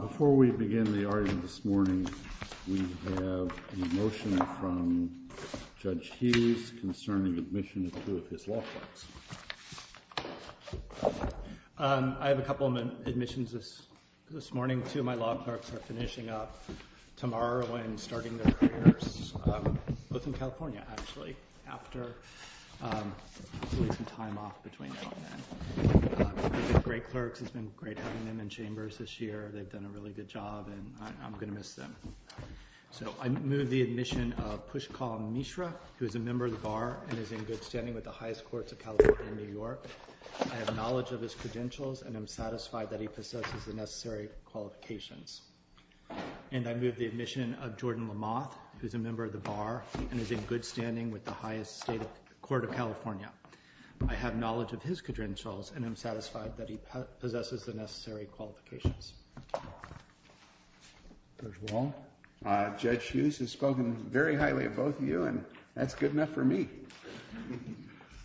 Before we begin the argument this morning, we have a motion from Judge Hughes concerning admission of two of his law clerks. I have a couple of admissions this morning. Two of my law clerks are finishing up tomorrow and starting their careers, both in California, actually. I'm going to miss them. I moved the admission of Pushkal Mishra, who is a member of the Bar and is in good standing with the highest courts of California and New York. I have knowledge of his credentials and am satisfied that he possesses the necessary qualifications. And I moved the admission of Jordan Lamothe, who is a member of the Bar and is in good standing with the highest court of California. I have knowledge of his credentials and am satisfied that he possesses the necessary qualifications. Judge Hughes has spoken very highly of both of you and that's good enough for me.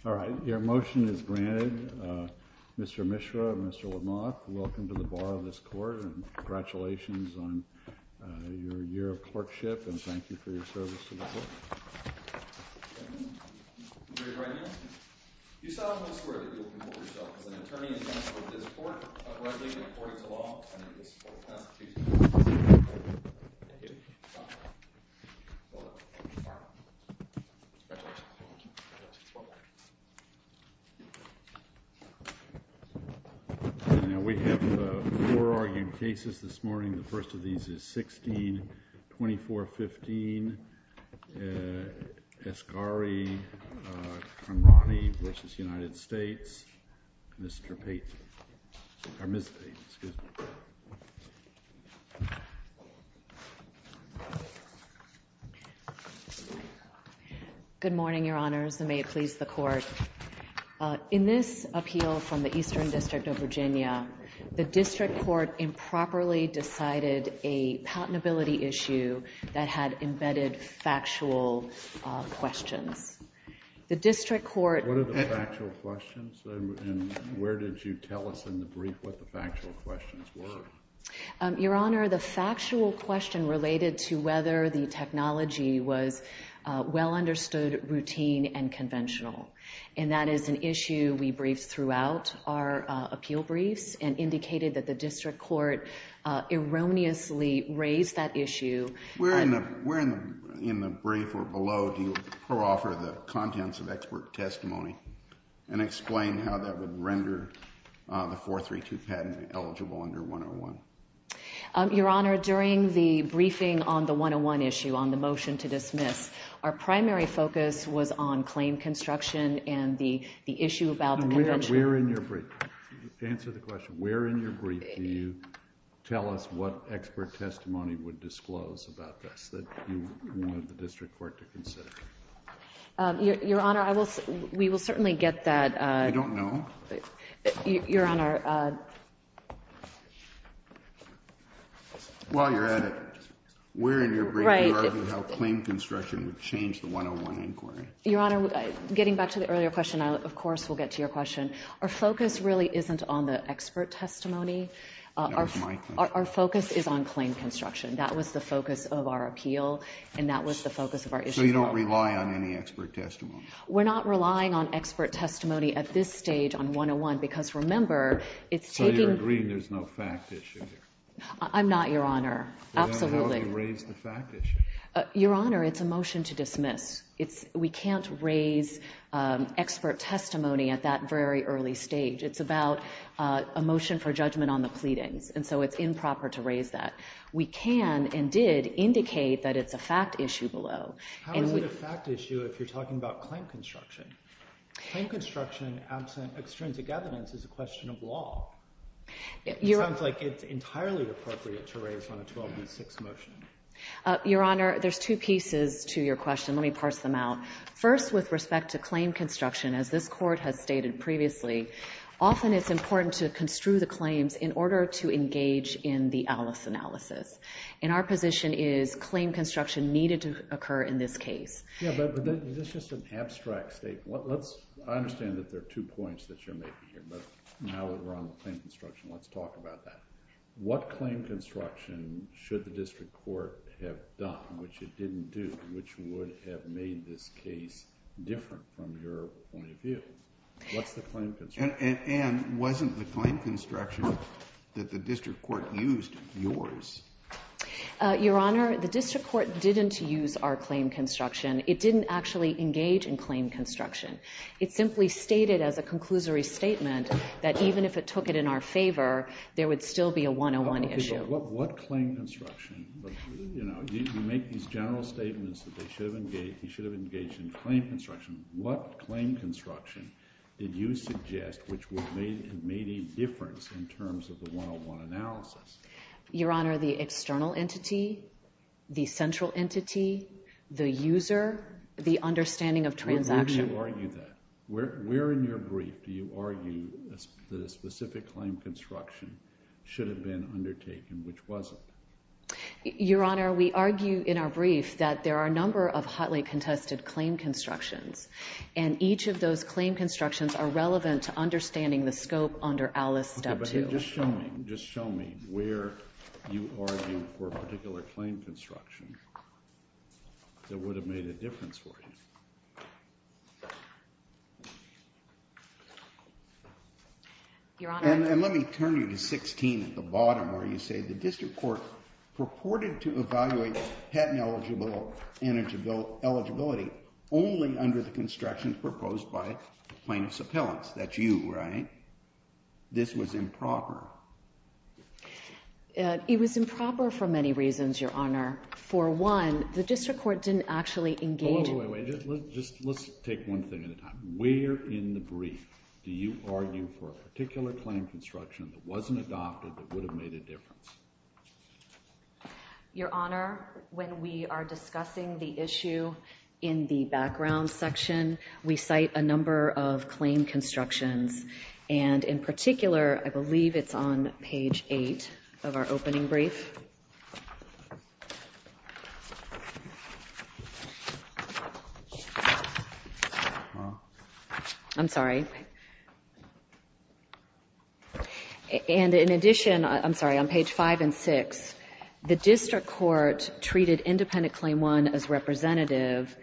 All right, your motion is granted. Mr. Mishra and Mr. Lamothe, welcome to the Bar of this court and congratulations on your year of clerkship and thank you for your service to the court. Your Honor, you solemnly swear that you will promote yourself as an attorney and counsel at this court, uprightly and according to law, and in the support of the Constitution. Thank you. Congratulations. Now we have four argued cases this morning. The first of these is 16-2415. Esgari-Conradi v. United States. Ms. Payton. Good morning, Your Honors, and may it please the Court. In this appeal from the Eastern District of Virginia, the District Court improperly decided a patentability issue that had embedded factual questions. The District Court— What are the factual questions and where did you tell us in the brief what the factual questions were? Your Honor, the factual question related to whether the technology was well understood, routine, and conventional. And that is an issue we briefed throughout our appeal briefs and indicated that the District Court erroneously raised that issue. Where in the brief or below do you proffer the contents of expert testimony and explain how that would render the 432 patent eligible under 101? Your Honor, during the briefing on the 101 issue, on the motion to dismiss, our primary focus was on claim construction and the issue about the— Answer the question. Where in your brief do you tell us what expert testimony would disclose about this that you wanted the District Court to consider? Your Honor, we will certainly get that— I don't know. Your Honor— Well, you're at it. Where in your brief do you argue how claim construction would change the 101 inquiry? Your Honor, getting back to the earlier question, of course we'll get to your question. Our focus really isn't on the expert testimony. That was my question. Our focus is on claim construction. That was the focus of our appeal and that was the focus of our issue. So you don't rely on any expert testimony? We're not relying on expert testimony at this stage on 101 because, remember, it's taking— So you're agreeing there's no fact issue here? I'm not, Your Honor. Absolutely. Then why have you raised the fact issue? Your Honor, it's a motion to dismiss. We can't raise expert testimony at that very early stage. It's about a motion for judgment on the pleadings, and so it's improper to raise that. We can and did indicate that it's a fact issue below. How is it a fact issue if you're talking about claim construction? Claim construction absent extrinsic evidence is a question of law. It sounds like it's entirely appropriate to raise on a 12B6 motion. Your Honor, there's two pieces to your question. Let me parse them out. First, with respect to claim construction, as this Court has stated previously, often it's important to construe the claims in order to engage in the Alice analysis. And our position is claim construction needed to occur in this case. Yeah, but is this just an abstract statement? I understand that there are two points that you're making here, but now that we're on the claim construction, let's talk about that. What claim construction should the district court have done, which it didn't do, which would have made this case different from your point of view? What's the claim construction? And wasn't the claim construction that the district court used yours? Your Honor, the district court didn't use our claim construction. It didn't actually engage in claim construction. It simply stated as a conclusory statement that even if it took it in our favor, there would still be a 101 issue. What claim construction? You make these general statements that he should have engaged in claim construction. What claim construction did you suggest which would have made a difference in terms of the 101 analysis? Your Honor, the external entity, the central entity, the user, the understanding of transaction. Where do you argue that? Where in your brief do you argue that a specific claim construction should have been undertaken, which wasn't? Your Honor, we argue in our brief that there are a number of highly contested claim constructions, and each of those claim constructions are relevant to understanding the scope under Alice Step 2. Okay, but just show me where you argue for a particular claim construction Your Honor. And let me turn you to 16 at the bottom where you say the district court purported to evaluate patent eligibility only under the constructions proposed by plaintiff's appellants. That's you, right? This was improper. It was improper for many reasons, Your Honor. For one, the district court didn't actually engage in Wait, wait, wait. Let's take one thing at a time. Where in the brief do you argue for a particular claim construction that wasn't adopted that would have made a difference? Your Honor, when we are discussing the issue in the background section, we cite a number of claim constructions. And in particular, I believe it's on page 8 of our opening brief. I'm sorry. And in addition, I'm sorry, on page 5 and 6, the district court treated independent claim 1 as representative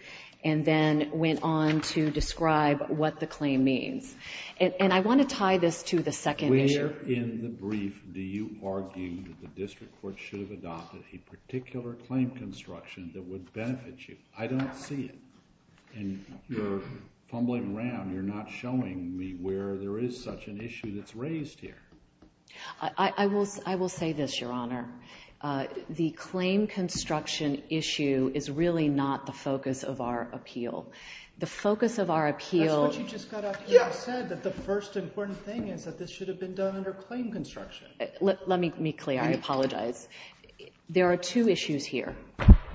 and then went on to describe what the claim means. And I want to tie this to the second issue. Where in the brief do you argue that the district court should have adopted a particular claim construction that would benefit you? I don't see it. And you're fumbling around. You're not showing me where there is such an issue that's raised here. I will say this, Your Honor. The claim construction issue is really not the focus of our appeal. The focus of our appeal That's what you just got up here and said, that the first important thing is that this should have been done under claim construction. Let me be clear. I apologize. There are two issues here.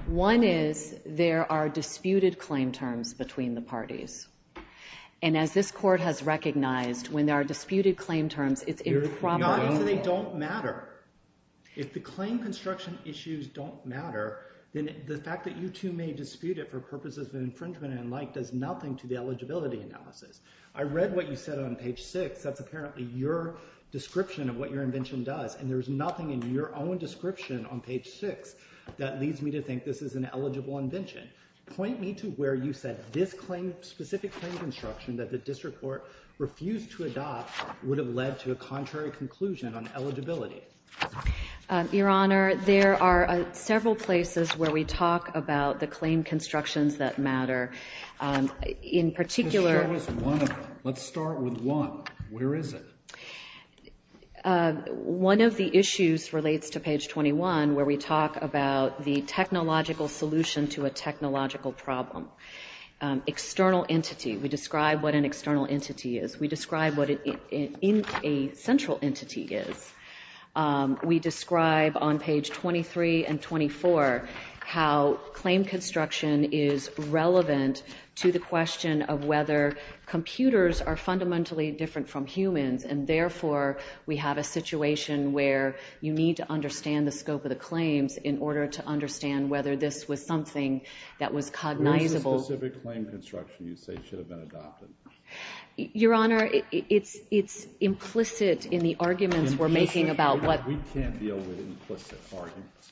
One is there are disputed claim terms between the parties. And as this court has recognized, when there are disputed claim terms, it's improbable. Your Honor, they don't matter. If the claim construction issues don't matter, then the fact that you two may dispute it for purposes of infringement and the like does nothing to the eligibility analysis. I read what you said on page 6. That's apparently your description of what your invention does. And there's nothing in your own description on page 6 that leads me to think this is an eligible invention. Point me to where you said this specific claim construction that the district court refused to adopt would have led to a contrary conclusion on eligibility. Your Honor, there are several places where we talk about the claim constructions that matter. In particular Let's start with one. Where is it? One of the issues relates to page 21 where we talk about the technological solution to a technological problem. External entity. We describe what an external entity is. We describe what a central entity is. We describe on page 23 and 24 how claim construction is relevant to the question of whether computers are fundamentally different from humans and therefore we have a situation where you need to understand the scope of the claims in order to understand whether this was something that was cognizable. Where is the specific claim construction you say should have been adopted? Your Honor, it's implicit in the arguments we're making about what We can't deal with implicit arguments.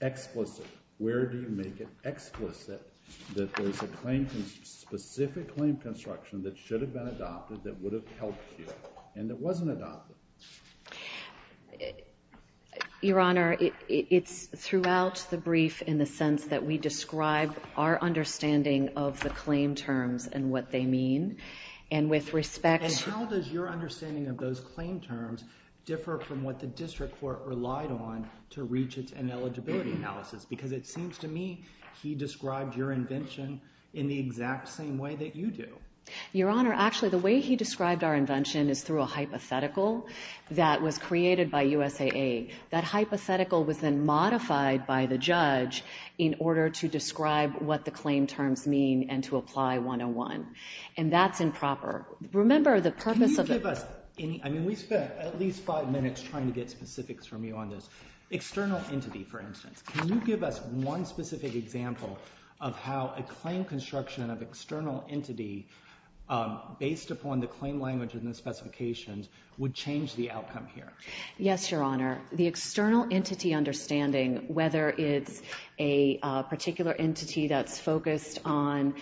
Explicit. Where do you make it explicit that there's a specific claim construction that should have been adopted that would have helped you and that wasn't adopted? Your Honor, it's throughout the brief in the sense that we describe our understanding of the claim terms and what they mean. And with respect to And how does your understanding of those claim terms differ from what the district court relied on to reach its ineligibility analysis? Because it seems to me he described your invention in the exact same way that you do. Your Honor, actually the way he described our invention is through a hypothetical that was created by USAA. That hypothetical was then modified by the judge in order to describe what the claim terms mean and to apply 101. And that's improper. Remember the purpose of Can you give us any, I mean we spent at least five minutes trying to get specifics from you on this. External entity, for instance. Can you give us one specific example of how a claim construction of external entity based upon the claim language and the specifications would change the outcome here? Yes, Your Honor. The external entity understanding, whether it's a particular entity that's focused on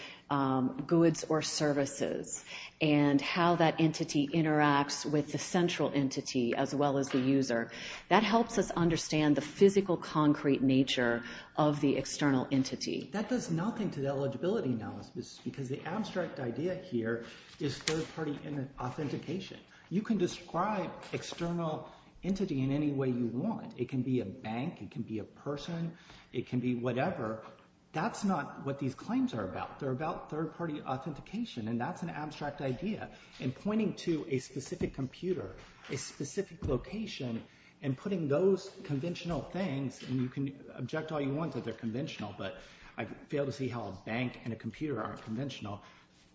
goods or services and how that entity interacts with the central entity as well as the user, that helps us understand the physical, concrete nature of the external entity. That does nothing to the eligibility analysis because the abstract idea here is third-party authentication. You can describe external entity in any way you want. It can be a bank, it can be a person, it can be whatever. That's not what these claims are about. They're about third-party authentication and that's an abstract idea. And pointing to a specific computer, a specific location, and putting those conventional things and you can object all you want that they're conventional, but I fail to see how a bank and a computer aren't conventional.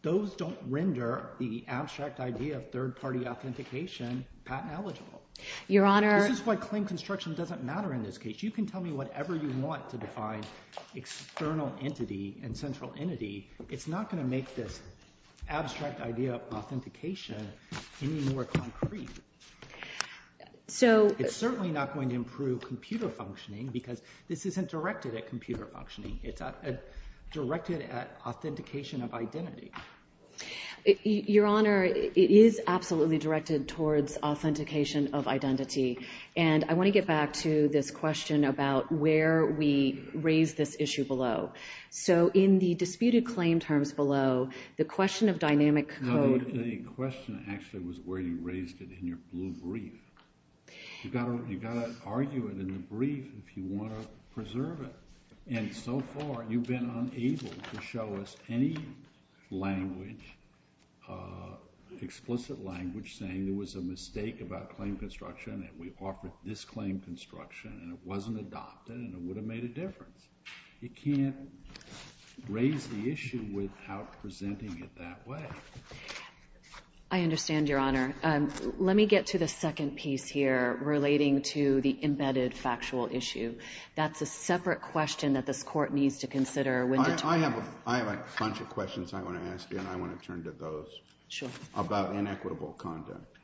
Those don't render the abstract idea of third-party authentication patent eligible. Your Honor. This is why claim construction doesn't matter in this case. You can tell me whatever you want to define external entity and central entity. It's not going to make this abstract idea of authentication any more concrete. It's certainly not going to improve computer functioning because this isn't directed at computer functioning. It's directed at authentication of identity. Your Honor, it is absolutely directed towards authentication of identity. And I want to get back to this question about where we raise this issue below. So in the disputed claim terms below, the question of dynamic code- The question actually was where you raised it in your blue brief. You've got to argue it in the brief if you want to preserve it. And so far you've been unable to show us any language, explicit language, saying there was a mistake about claim construction and we offered this claim construction and it wasn't adopted and it would have made a difference. You can't raise the issue without presenting it that way. I understand, Your Honor. Let me get to the second piece here relating to the embedded factual issue. That's a separate question that this Court needs to consider. I have a bunch of questions I want to ask you and I want to turn to those. Sure. About inequitable conduct.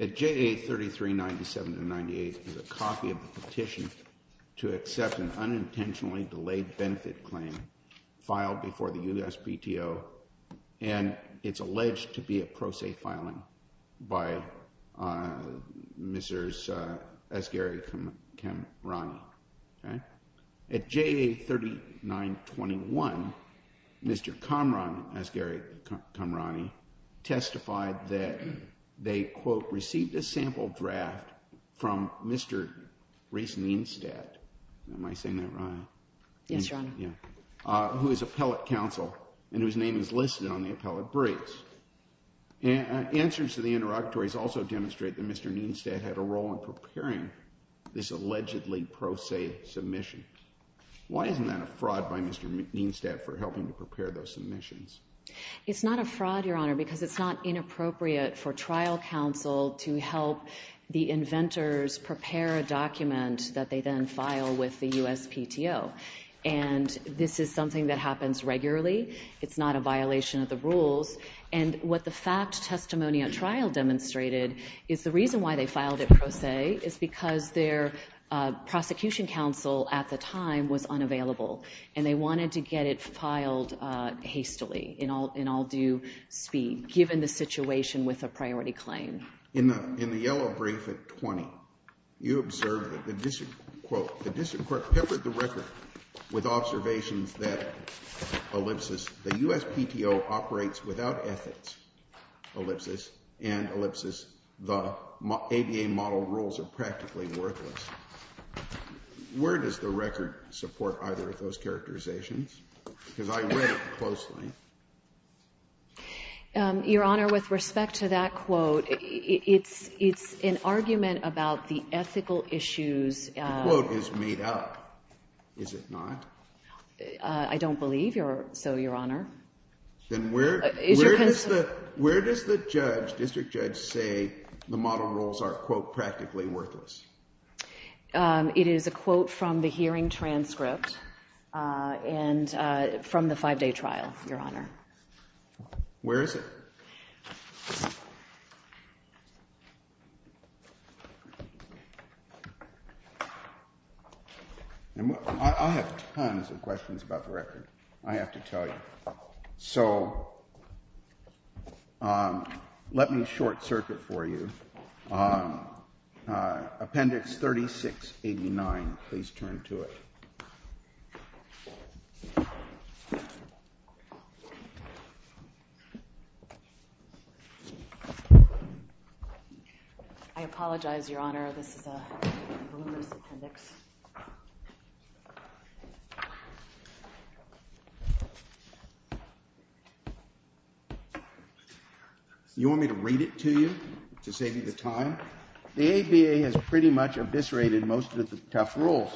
At JA3397-98 is a copy of the petition to accept an unintentionally delayed benefit claim filed before the USPTO and it's alleged to be a pro se filing by Mrs. Asghari-Kamrani. At JA3921, Mr. Kamran, Asghari-Kamrani, testified that they, quote, received a sample draft from Mr. Reese Neenstead. Am I saying that right? Yes, Your Honor. Who is appellate counsel and whose name is listed on the appellate briefs. Answers to the interrogatories also demonstrate that Mr. Neenstead had a role in preparing this allegedly pro se submission. Why isn't that a fraud by Mr. Neenstead for helping to prepare those submissions? It's not a fraud, Your Honor, because it's not inappropriate for trial counsel to help the inventors prepare a document that they then file with the USPTO. And this is something that happens regularly. It's not a violation of the rules. And what the fact testimony at trial demonstrated is the reason why they filed it pro se is because their prosecution counsel at the time was unavailable and they wanted to get it filed hastily in all due speed, given the situation with a priority claim. In the yellow brief at 20, you observed that the district, quote, the district court peppered the record with observations that, ellipsis, the USPTO operates without ethics, ellipsis, and ellipsis, the ABA model rules are practically worthless. Where does the record support either of those characterizations? Because I read it closely. Your Honor, with respect to that quote, it's an argument about the ethical issues. The quote is made up, is it not? I don't believe so, Your Honor. Then where does the judge, district judge, say the model rules are, quote, practically worthless? It is a quote from the hearing transcript and from the five-day trial, Your Honor. Where is it? I have tons of questions about the record, I have to tell you. So let me short-circuit for you. Appendix 3689, please turn to it. I apologize, Your Honor, this is a rumorous appendix. You want me to read it to you to save you the time? The ABA has pretty much eviscerated most of the tough rules.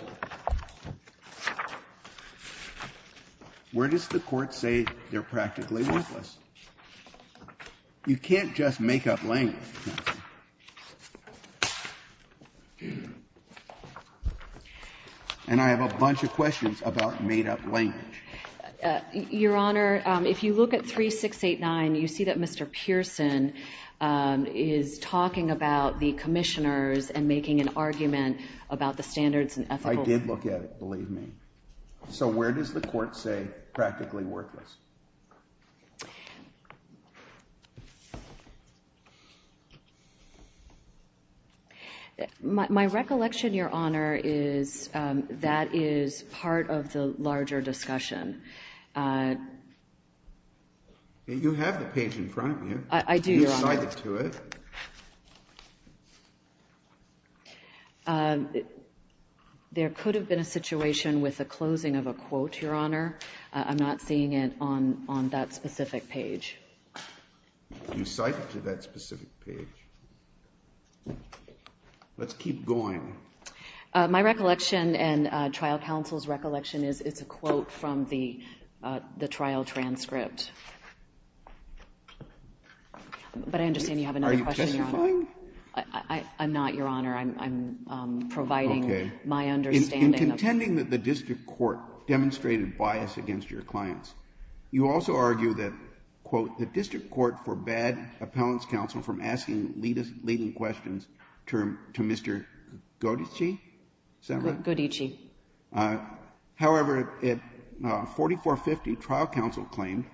Where does the Court say they're practically worthless? You can't just make up language. And I have a bunch of questions about made-up language. Your Honor, if you look at 3689, you see that Mr. Pearson is talking about the commissioners and making an argument about the standards and ethical. I did look at it, believe me. So where does the Court say practically worthless? My recollection, Your Honor, is that is part of the larger discussion. You have the page in front of you. I do, Your Honor. You cited to it. There could have been a situation with the closing of a quote, Your Honor. I'm not seeing it on that specific page. You cited to that specific page. Let's keep going. My recollection and trial counsel's recollection is it's a quote from the trial transcript. But I understand you have another question, Your Honor. Are you testifying? I'm not, Your Honor. I'm providing my understanding. Okay. In contending that the district court demonstrated bias against your clients, you also argue that, quote, the district court forbade appellant's counsel from asking leading questions to Mr. Godich. Is that right? Godich. However, 4450 trial counsel claimed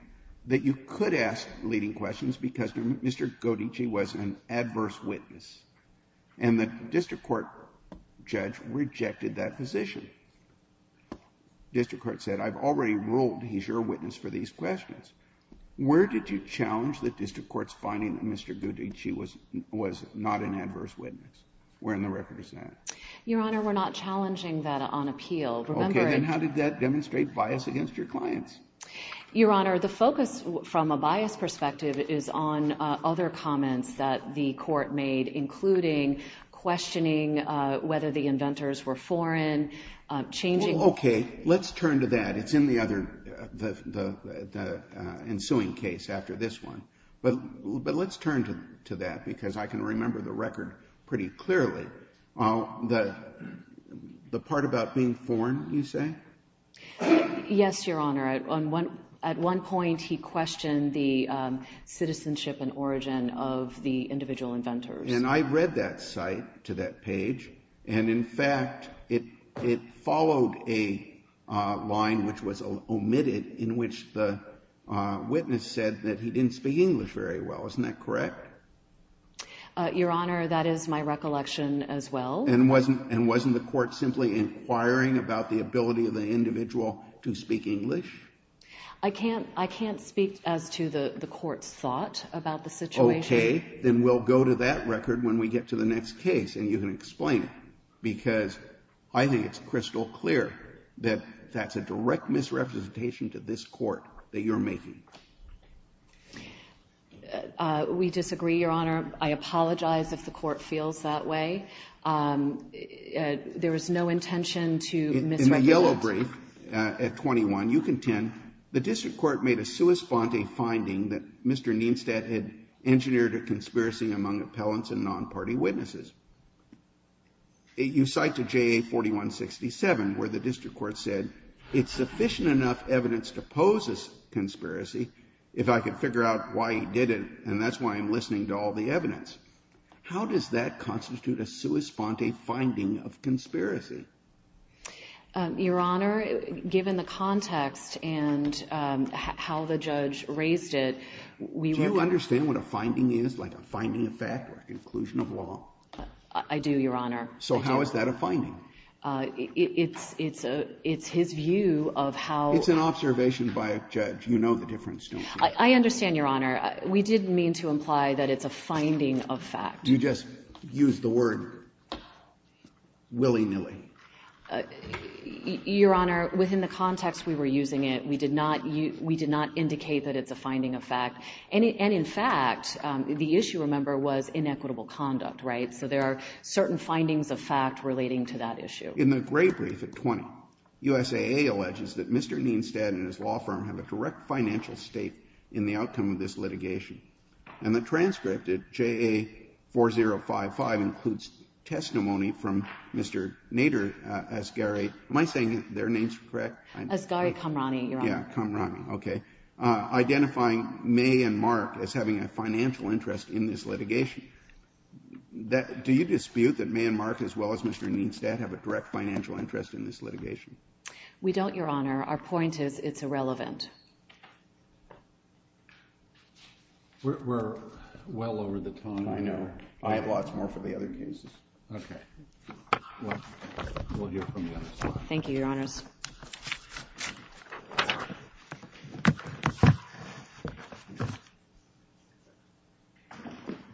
that you could ask leading questions because Mr. Godich was an adverse witness. And the district court judge rejected that position. District court said, I've already ruled he's your witness for these questions. Where did you challenge the district court's finding that Mr. Godich was not an adverse witness? Where in the record is that? Your Honor, we're not challenging that on appeal. Remember it. Okay. Then how did that demonstrate bias against your clients? Your Honor, the focus from a bias perspective is on other comments that the court made, including questioning whether the inventors were foreign, changing. Okay. Let's turn to that. It's in the other, the ensuing case after this one. But let's turn to that because I can remember the record pretty clearly. The part about being foreign, you say? Yes, Your Honor. At one point he questioned the citizenship and origin of the individual inventors. And I read that site to that page. And, in fact, it followed a line which was omitted in which the witness said that he didn't speak English very well. Isn't that correct? Your Honor, that is my recollection as well. And wasn't the court simply inquiring about the ability of the individual to speak English? I can't speak as to the court's thought about the situation. Okay. Then we'll go to that record when we get to the next case and you can explain it, because I think it's crystal clear that that's a direct misrepresentation to this Court that you're making. We disagree, Your Honor. I apologize if the Court feels that way. There was no intention to misrepresent. In the yellow brief at 21, you contend the district court made a sua sponte finding that Mr. Neenstadt had engineered a conspiracy among appellants and non-party witnesses. You cite to JA-4167 where the district court said, it's sufficient enough evidence to pose a conspiracy if I could figure out why he did it, and that's why I'm listening to all the evidence. How does that constitute a sua sponte finding of conspiracy? Your Honor, given the context and how the judge raised it, we would think that Do you understand what a finding is, like a finding of fact or a conclusion of law? I do, Your Honor. So how is that a finding? It's his view of how It's an observation by a judge. You know the difference, don't you? I understand, Your Honor. We didn't mean to imply that it's a finding of fact. You just used the word willy-nilly. Your Honor, within the context we were using it, we did not indicate that it's a finding of fact. And in fact, the issue, remember, was inequitable conduct, right? So there are certain findings of fact relating to that issue. In the gray brief at 20, USAA alleges that Mr. Neenstadt and his law firm have a direct financial state in the outcome of this litigation. And the transcript at JA4055 includes testimony from Mr. Nader Asghari. Am I saying their names correct? Asghari Qamrani, Your Honor. Yeah, Qamrani. Okay. Identifying May and Mark as having a financial interest in this litigation. Do you dispute that May and Mark, as well as Mr. Neenstadt, have a direct financial interest in this litigation? We don't, Your Honor. Our point is it's irrelevant. We're well over the time. I know. I have lots more for the other cases. Okay. Well, we'll hear from you. Thank you, Your Honors.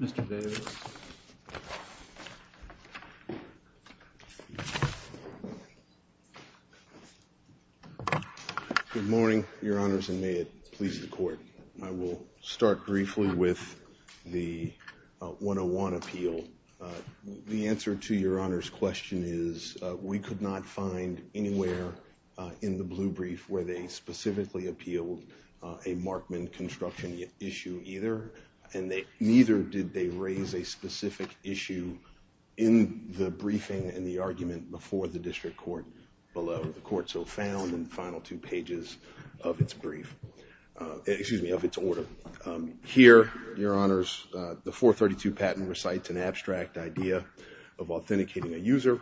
Mr. Davis. Good morning, Your Honors, and may it please the Court. I will start briefly with the 101 appeal. The answer to Your Honor's question is we could not find anywhere in the blue brief where they specifically appealed a Markman construction issue either, and neither did they raise a specific issue in the briefing and the argument before the district court below. The court so found in the final two pages of its brief, excuse me, of its order. Here, Your Honors, the 432 patent recites an abstract idea of authenticating a user,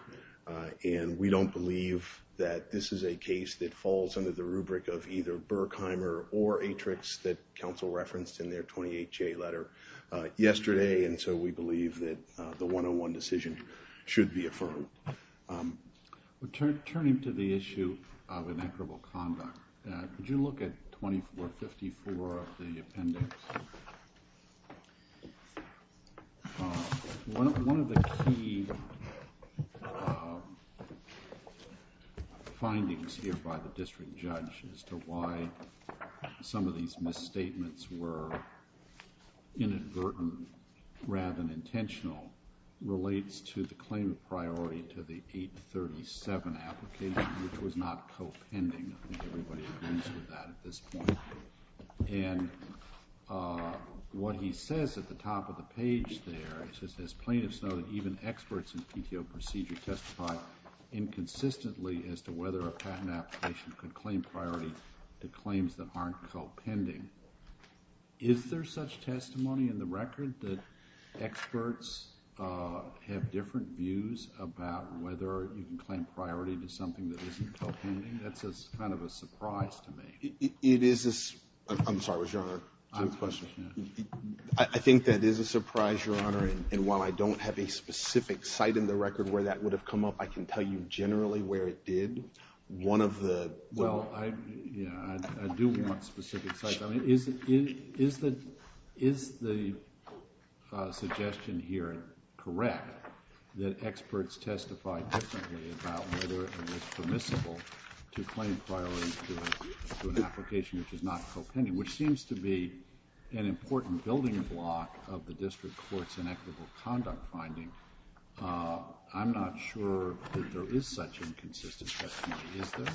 and we don't believe that this is a case that falls under the rubric of either Berkheimer or Atrix that counsel referenced in their 28-J letter yesterday, and so we believe that the 101 decision should be affirmed. Turning to the issue of inequitable conduct, could you look at 2454 of the appendix? One of the key findings here by the district judge as to why some of these misstatements were inadvertent rather than intentional relates to the claim of priority to the 837 application, which was not co-pending. I think everybody agrees with that at this point. And what he says at the top of the page there is just as plaintiffs know that even experts in PTO procedure testify inconsistently as to whether a patent application could claim priority to claims that aren't co-pending. Is there such testimony in the record that experts have different views about whether you can claim priority to something that isn't co-pending? That's kind of a surprise to me. It is a surprise. I'm sorry, Your Honor, to the question. I think that is a surprise, Your Honor, and while I don't have a specific site in the record where that would have come up, I can tell you generally where it did. Well, I do want specific sites. Is the suggestion here correct that experts testify differently about whether it is permissible to claim priority to an application which is not co-pending, which seems to be an important building block of the district court's inequitable conduct finding? I'm not sure that there is such inconsistent testimony. Is there?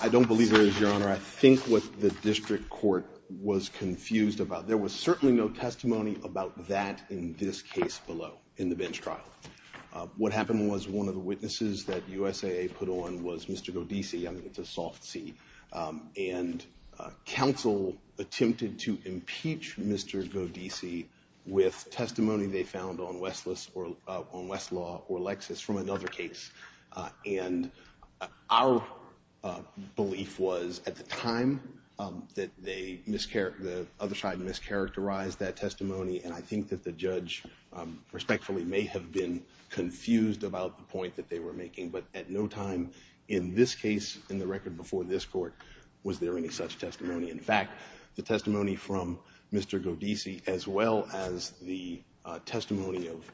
I don't believe there is, Your Honor. I think what the district court was confused about, there was certainly no testimony about that in this case below in the bench trial. What happened was one of the witnesses that USAA put on was Mr. Godese. I think it's a soft C. Counsel attempted to impeach Mr. Godese with testimony they found on Westlaw or Lexis from another case. Our belief was at the time that the other side mischaracterized that testimony, and I think that the judge respectfully may have been confused about the point that they were making, but at no time in this case, in the record before this court, was there any such testimony. In fact, the testimony from Mr. Godese as well as the testimony of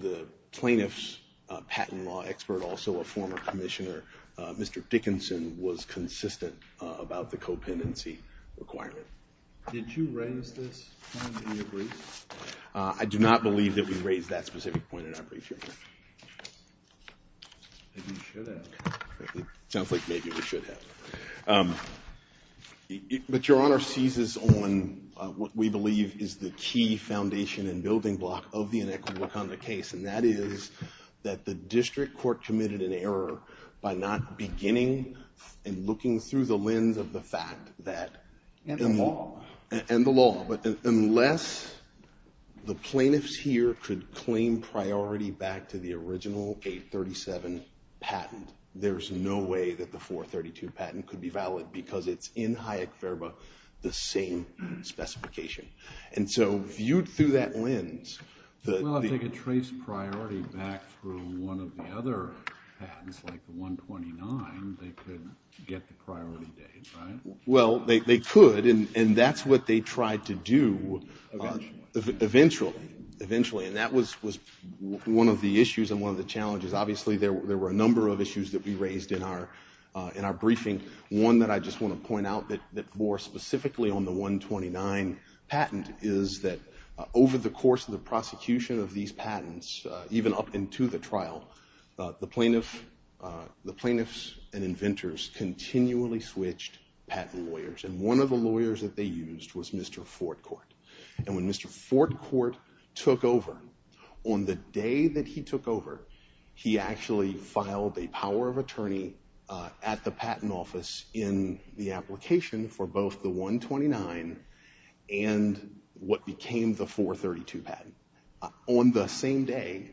the plaintiff's patent law expert, also a former commissioner, Mr. Dickinson, was consistent about the co-pendency requirement. Did you raise this point in your brief? I do not believe that we raised that specific point in our brief, Your Honor. Maybe you should have. It sounds like maybe we should have. But Your Honor seizes on what we believe is the key foundation and building block of the inequitable conduct case, and that is that the district court committed an error by not beginning and looking through the lens of the fact and the law. Unless the plaintiffs here could claim priority back to the original 837 patent, there's no way that the 432 patent could be valid because it's in Hayek-Verba the same specification. And so viewed through that lens... Well, if they could trace priority back through one of the other patents, like the 129, they could get the priority date, right? Well, they could, and that's what they tried to do eventually. And that was one of the issues and one of the challenges. Obviously there were a number of issues that we raised in our briefing. One that I just want to point out that more specifically on the 129 patent is that over the course of the prosecution of these patents, even up into the trial, the plaintiffs and inventors continually switched patent lawyers, and one of the lawyers that they used was Mr. Fortcourt. And when Mr. Fortcourt took over, on the day that he took over, he actually filed a power of attorney at the patent office in the application for both the 129 and what became the 432 patent. On the same day,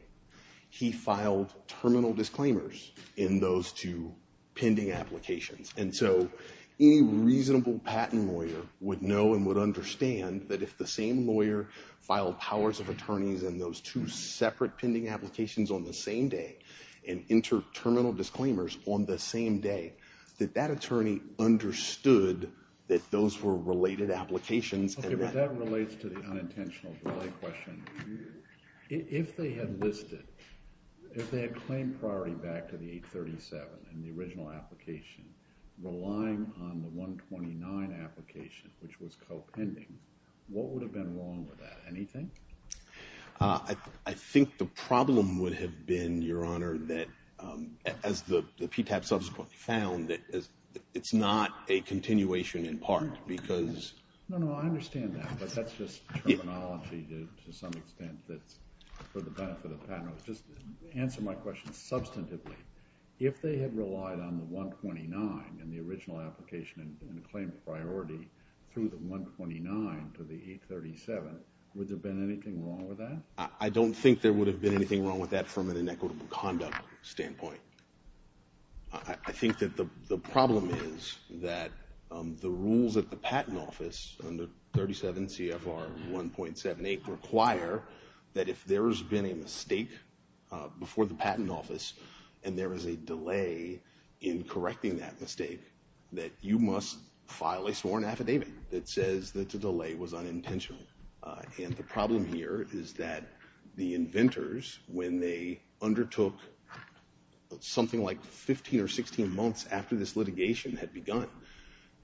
he filed terminal disclaimers in those two pending applications. And so any reasonable patent lawyer would know and would understand that if the same lawyer filed powers of attorneys in those two separate pending applications on the same day and entered terminal disclaimers on the same day, that that attorney understood that those were related applications. Okay, but that relates to the unintentional delay question. If they had listed, if they had claimed priority back to the 837 in the original application, relying on the 129 application, which was co-pending, what would have been wrong with that? Anything? I think the problem would have been, Your Honor, that as the PTAP subsequently found, it's not a continuation in part because No, no, I understand that, but that's just terminology to some extent that's for the benefit of the panel. Just answer my question substantively. If they had relied on the 129 in the original application and claimed priority through the 129 to the 837, would there have been anything wrong with that? I don't think there would have been anything wrong with that from an inequitable conduct standpoint. I think that the problem is that the rules at the Patent Office under 37 CFR 1.78 require that if there has been a mistake before the Patent Office and there is a delay in correcting that mistake, that you must file a sworn affidavit that says that the delay was unintentional. And the problem here is that the inventors, when they undertook something like 15 or 16 months after this litigation had begun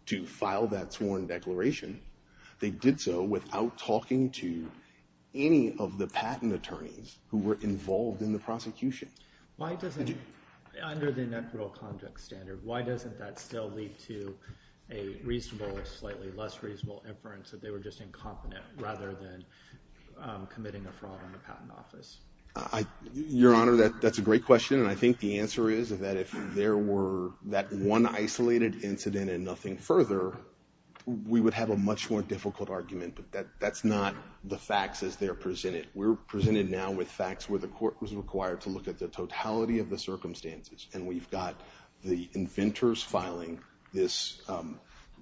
to file that sworn declaration, they did so without talking to any of the patent attorneys who were involved in the prosecution. Under the inequitable conduct standard, why doesn't that still lead to a reasonable or slightly less reasonable inference that they were just incompetent rather than committing a fraud on the Patent Office? Your Honor, that's a great question. And I think the answer is that if there were that one isolated incident and nothing further, we would have a much more difficult argument. But that's not the facts as they're presented. We're presented now with facts where the court was required to look at the totality of the circumstances. And we've got the inventors filing this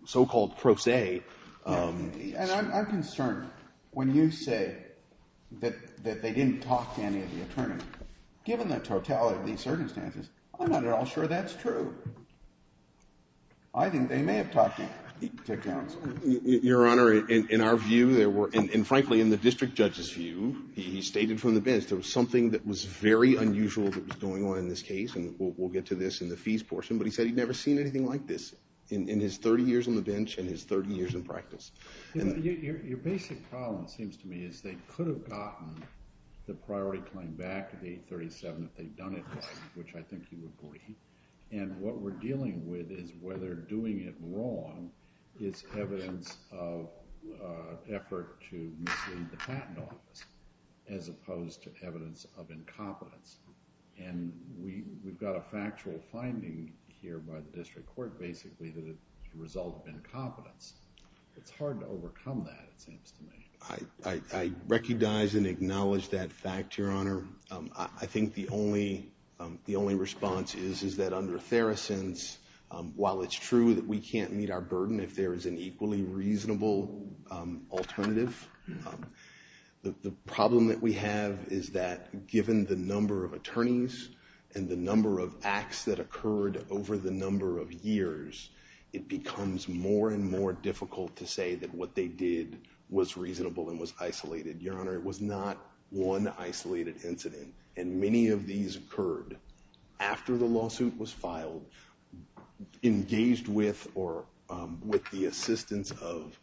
so-called pro se. And I'm concerned when you say that they didn't talk to any of the attorneys. Given the totality of these circumstances, I'm not at all sure that's true. I think they may have talked to counsel. Your Honor, in our view there were, and frankly in the district judge's view, he stated from the bench, there was something that was very unusual that was going on in this case, and we'll get to this in the fees portion, but he said he'd never seen anything like this in his 30 years on the bench and his 30 years in practice. Your basic problem, it seems to me, is they could have gotten the priority claim back to the 837 if they'd done it right, which I think you agree. And what we're dealing with is whether doing it wrong is evidence of effort to mislead the patent office as opposed to evidence of incompetence. And we've got a factual finding here by the district court, basically, that the result of incompetence. It's hard to overcome that, it seems to me. I recognize and acknowledge that fact, Your Honor. I think the only response is that under Theracent's, while it's true that we can't meet our burden if there is an equally reasonable alternative, the problem that we have is that given the number of attorneys and the number of acts that occurred over the number of years, it becomes more and more difficult to say that what they did was reasonable and was isolated. Your Honor, it was not one isolated incident, and many of these occurred after the lawsuit was filed, engaged with or with the assistance of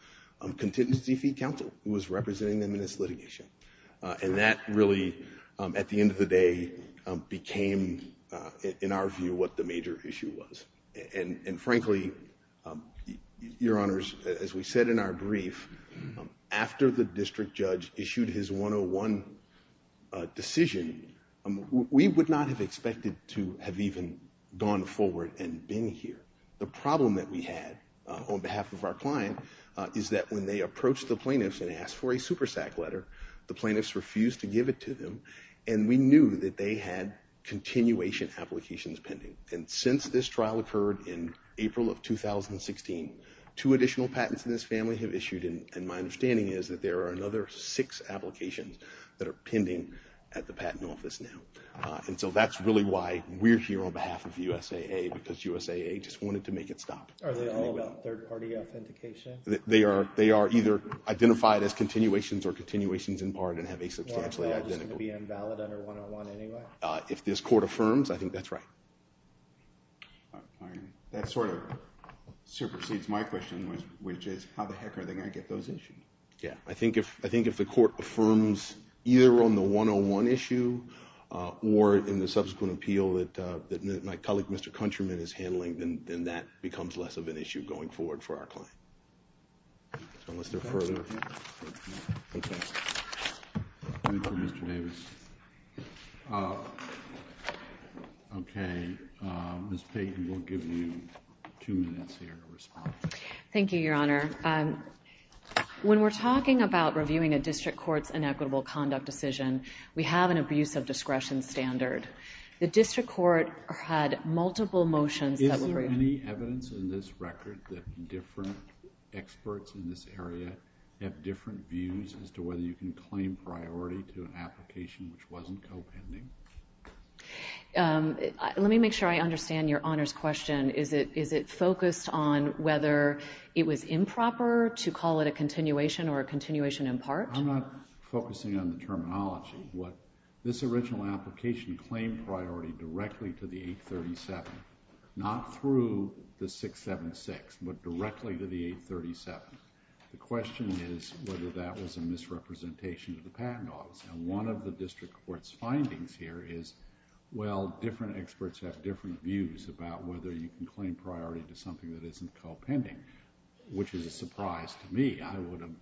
contingency fee counsel who was representing them in this litigation. And that really, at the end of the day, became, in our view, what the major issue was. And frankly, Your Honors, as we said in our brief, after the district judge issued his 101 decision, we would not have expected to have even gone forward and been here. The problem that we had on behalf of our client is that when they approached the plaintiffs and asked for a SuperSAC letter, the plaintiffs refused to give it to them, and we knew that they had continuation applications pending. And since this trial occurred in April of 2016, two additional patents in this family have issued, and my understanding is that there are another six applications that are pending at the Patent Office now. And so that's really why we're here on behalf of USAA, because USAA just wanted to make it stop. Are they all about third-party authentication? They are either identified as continuations or continuations in part and have a substantially identical... Are they all just going to be invalid under 101 anyway? If this court affirms, I think that's right. All right. That sort of supersedes my question, which is how the heck are they going to get those issued? Yeah. I think if the court affirms either on the 101 issue or in the subsequent appeal that my colleague, Mr. Countryman, is handling, then that becomes less of an issue going forward for our client. So unless there are further... Okay. Thank you, Mr. Davis. Okay. Ms. Payton, we'll give you two minutes here to respond. Thank you, Your Honor. When we're talking about reviewing a district court's inequitable conduct decision, we have an abuse of discretion standard. The district court had multiple motions that were... Is there any evidence in this record that different experts in this area have different views as to whether you can claim priority to an application which wasn't co-pending? Let me make sure I understand Your Honor's question. Is it focused on whether it was improper to call it a continuation I'm not focusing on the terminology. This original application claimed priority directly to the 837, not through the 676, but directly to the 837. The question is whether that was a misrepresentation of the patent office. One of the district court's findings here is, well, different experts have different views about whether you can claim priority to something that isn't co-pending, which is a surprise to me. I would have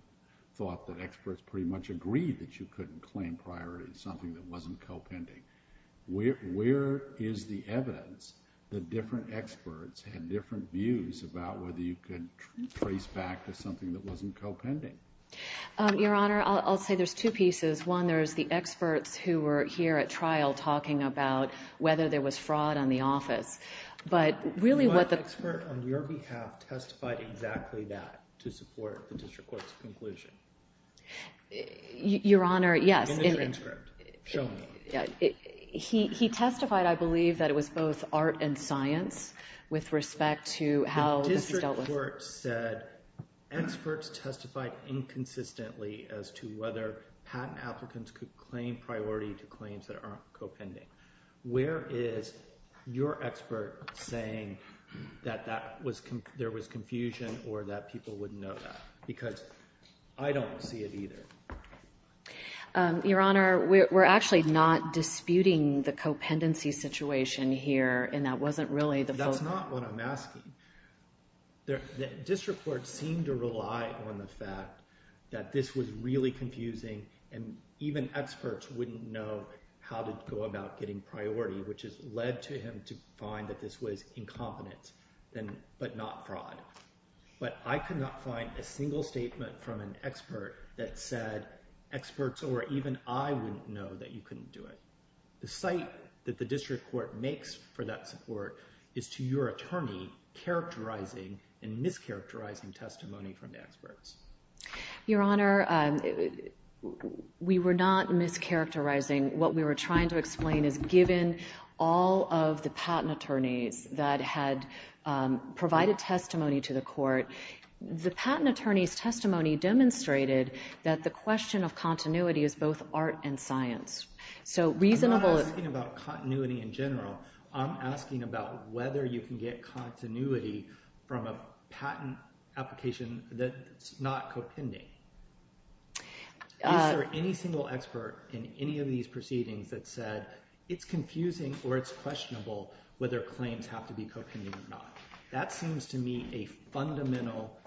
thought that experts pretty much agreed that you couldn't claim priority to something that wasn't co-pending. Where is the evidence that different experts had different views about whether you could trace back to something that wasn't co-pending? Your Honor, I'll say there's two pieces. One, there's the experts who were here at trial talking about whether there was fraud on the office, but really what the... One expert on your behalf testified exactly that to support the district court's conclusion. Your Honor, yes. In the transcript. Show me. He testified, I believe, that it was both art and science with respect to how this was dealt with. The district court said experts testified inconsistently as to whether patent applicants could claim priority to claims that aren't co-pending. Where is your expert saying that there was confusion or that people wouldn't know that? Because I don't see it either. Your Honor, we're actually not disputing the co-pendency situation here and that wasn't really the focus. That's not what I'm asking. The district court seemed to rely on the fact that this was really confusing and even experts wouldn't know how to go about getting priority, which has led to him to find that this was incompetent but not fraud. But I could not find a single statement from an expert that said experts or even I wouldn't know that you couldn't do it. The cite that the district court makes for that support is to your attorney characterizing and mischaracterizing testimony from the experts. Your Honor, we were not mischaracterizing. What we were trying to explain is given all of the patent attorneys that had provided testimony to the court, the patent attorney's testimony demonstrated that the question of continuity is both art and science. I'm not asking about continuity in general. I'm asking about whether you can get continuity from a patent application that's not co-pending. Is there any single expert in any of these proceedings that said it's confusing or it's questionable whether claims have to be co-pending or not? That seems to me a fundamental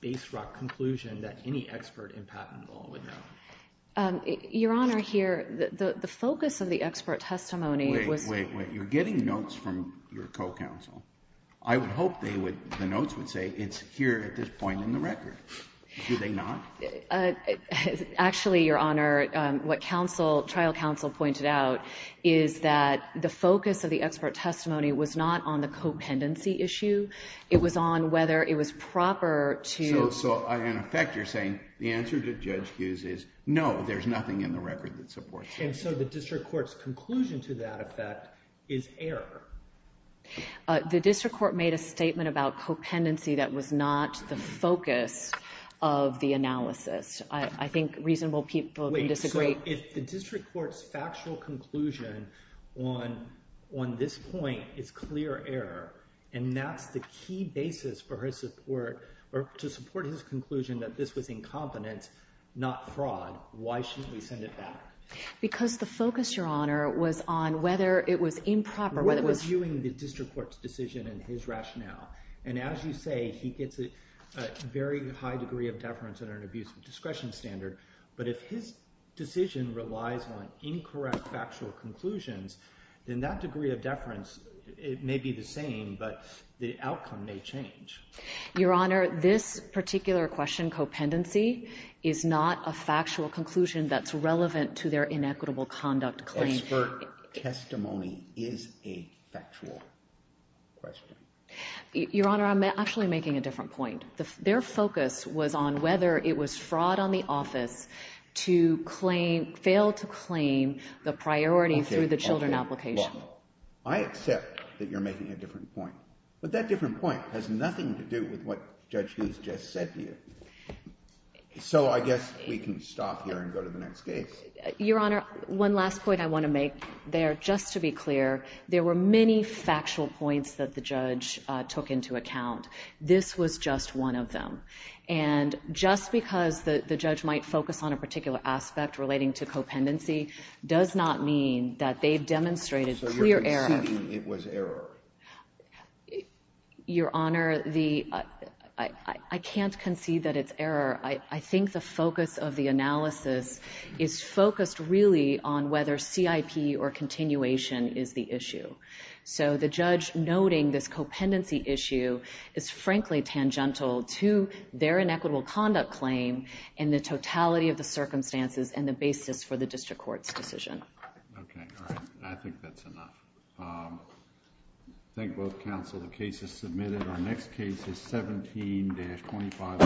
base rock conclusion that any expert in patent law would know. Your Honor, here, the focus of the expert testimony was... Wait, wait, wait. You're getting notes from your co-counsel. I would hope the notes would say it's here at this point in the record. Do they not? Actually, Your Honor, what trial counsel pointed out is that the focus of the expert testimony was not on the co-pendency issue. It was on whether it was proper to... So, in effect, you're saying the answer to Judge Hughes is no, there's nothing in the record that supports that. And so the district court's conclusion to that effect is error. The district court made a statement about co-pendency that was not the focus of the analysis. I think reasonable people can disagree. Wait, so if the district court's factual conclusion on this point is clear error, and that's the key basis for his support, or to support his conclusion that this was incompetence, not fraud, why shouldn't we send it back? Because the focus, Your Honor, was on whether it was improper, whether it was... What was viewing the district court's decision and his rationale? And as you say, he gets a very high degree of deference under an abuse of discretion standard, but if his decision relies on incorrect factual conclusions, then that degree of deference may be the same, but the outcome may change. Your Honor, this particular question, co-pendency, is not a factual conclusion that's relevant to their inequitable conduct claim. Expert testimony is a factual question. Your Honor, I'm actually making a different point. Their focus was on whether it was fraud on the office to fail to claim the priority through the children application. I accept that you're making a different point, but that different point has nothing to do with what Judge Hughes just said to you. So I guess we can stop here and go to the next case. Your Honor, one last point I want to make there, just to be clear, there were many factual points that the judge took into account. This was just one of them. And just because the judge might focus on a particular aspect relating to co-pendency does not mean that they've demonstrated clear error. So you're conceding it was error? Your Honor, I can't concede that it's error. I think the focus of the analysis is focused really on whether CIP or continuation is the issue. So the judge noting this co-pendency issue is frankly tangential to their inequitable conduct claim and the totality of the circumstances and the basis for the district court's decision. Okay, all right. I think that's enough. Thank both counsel. The case is submitted. Our next case is 17-25.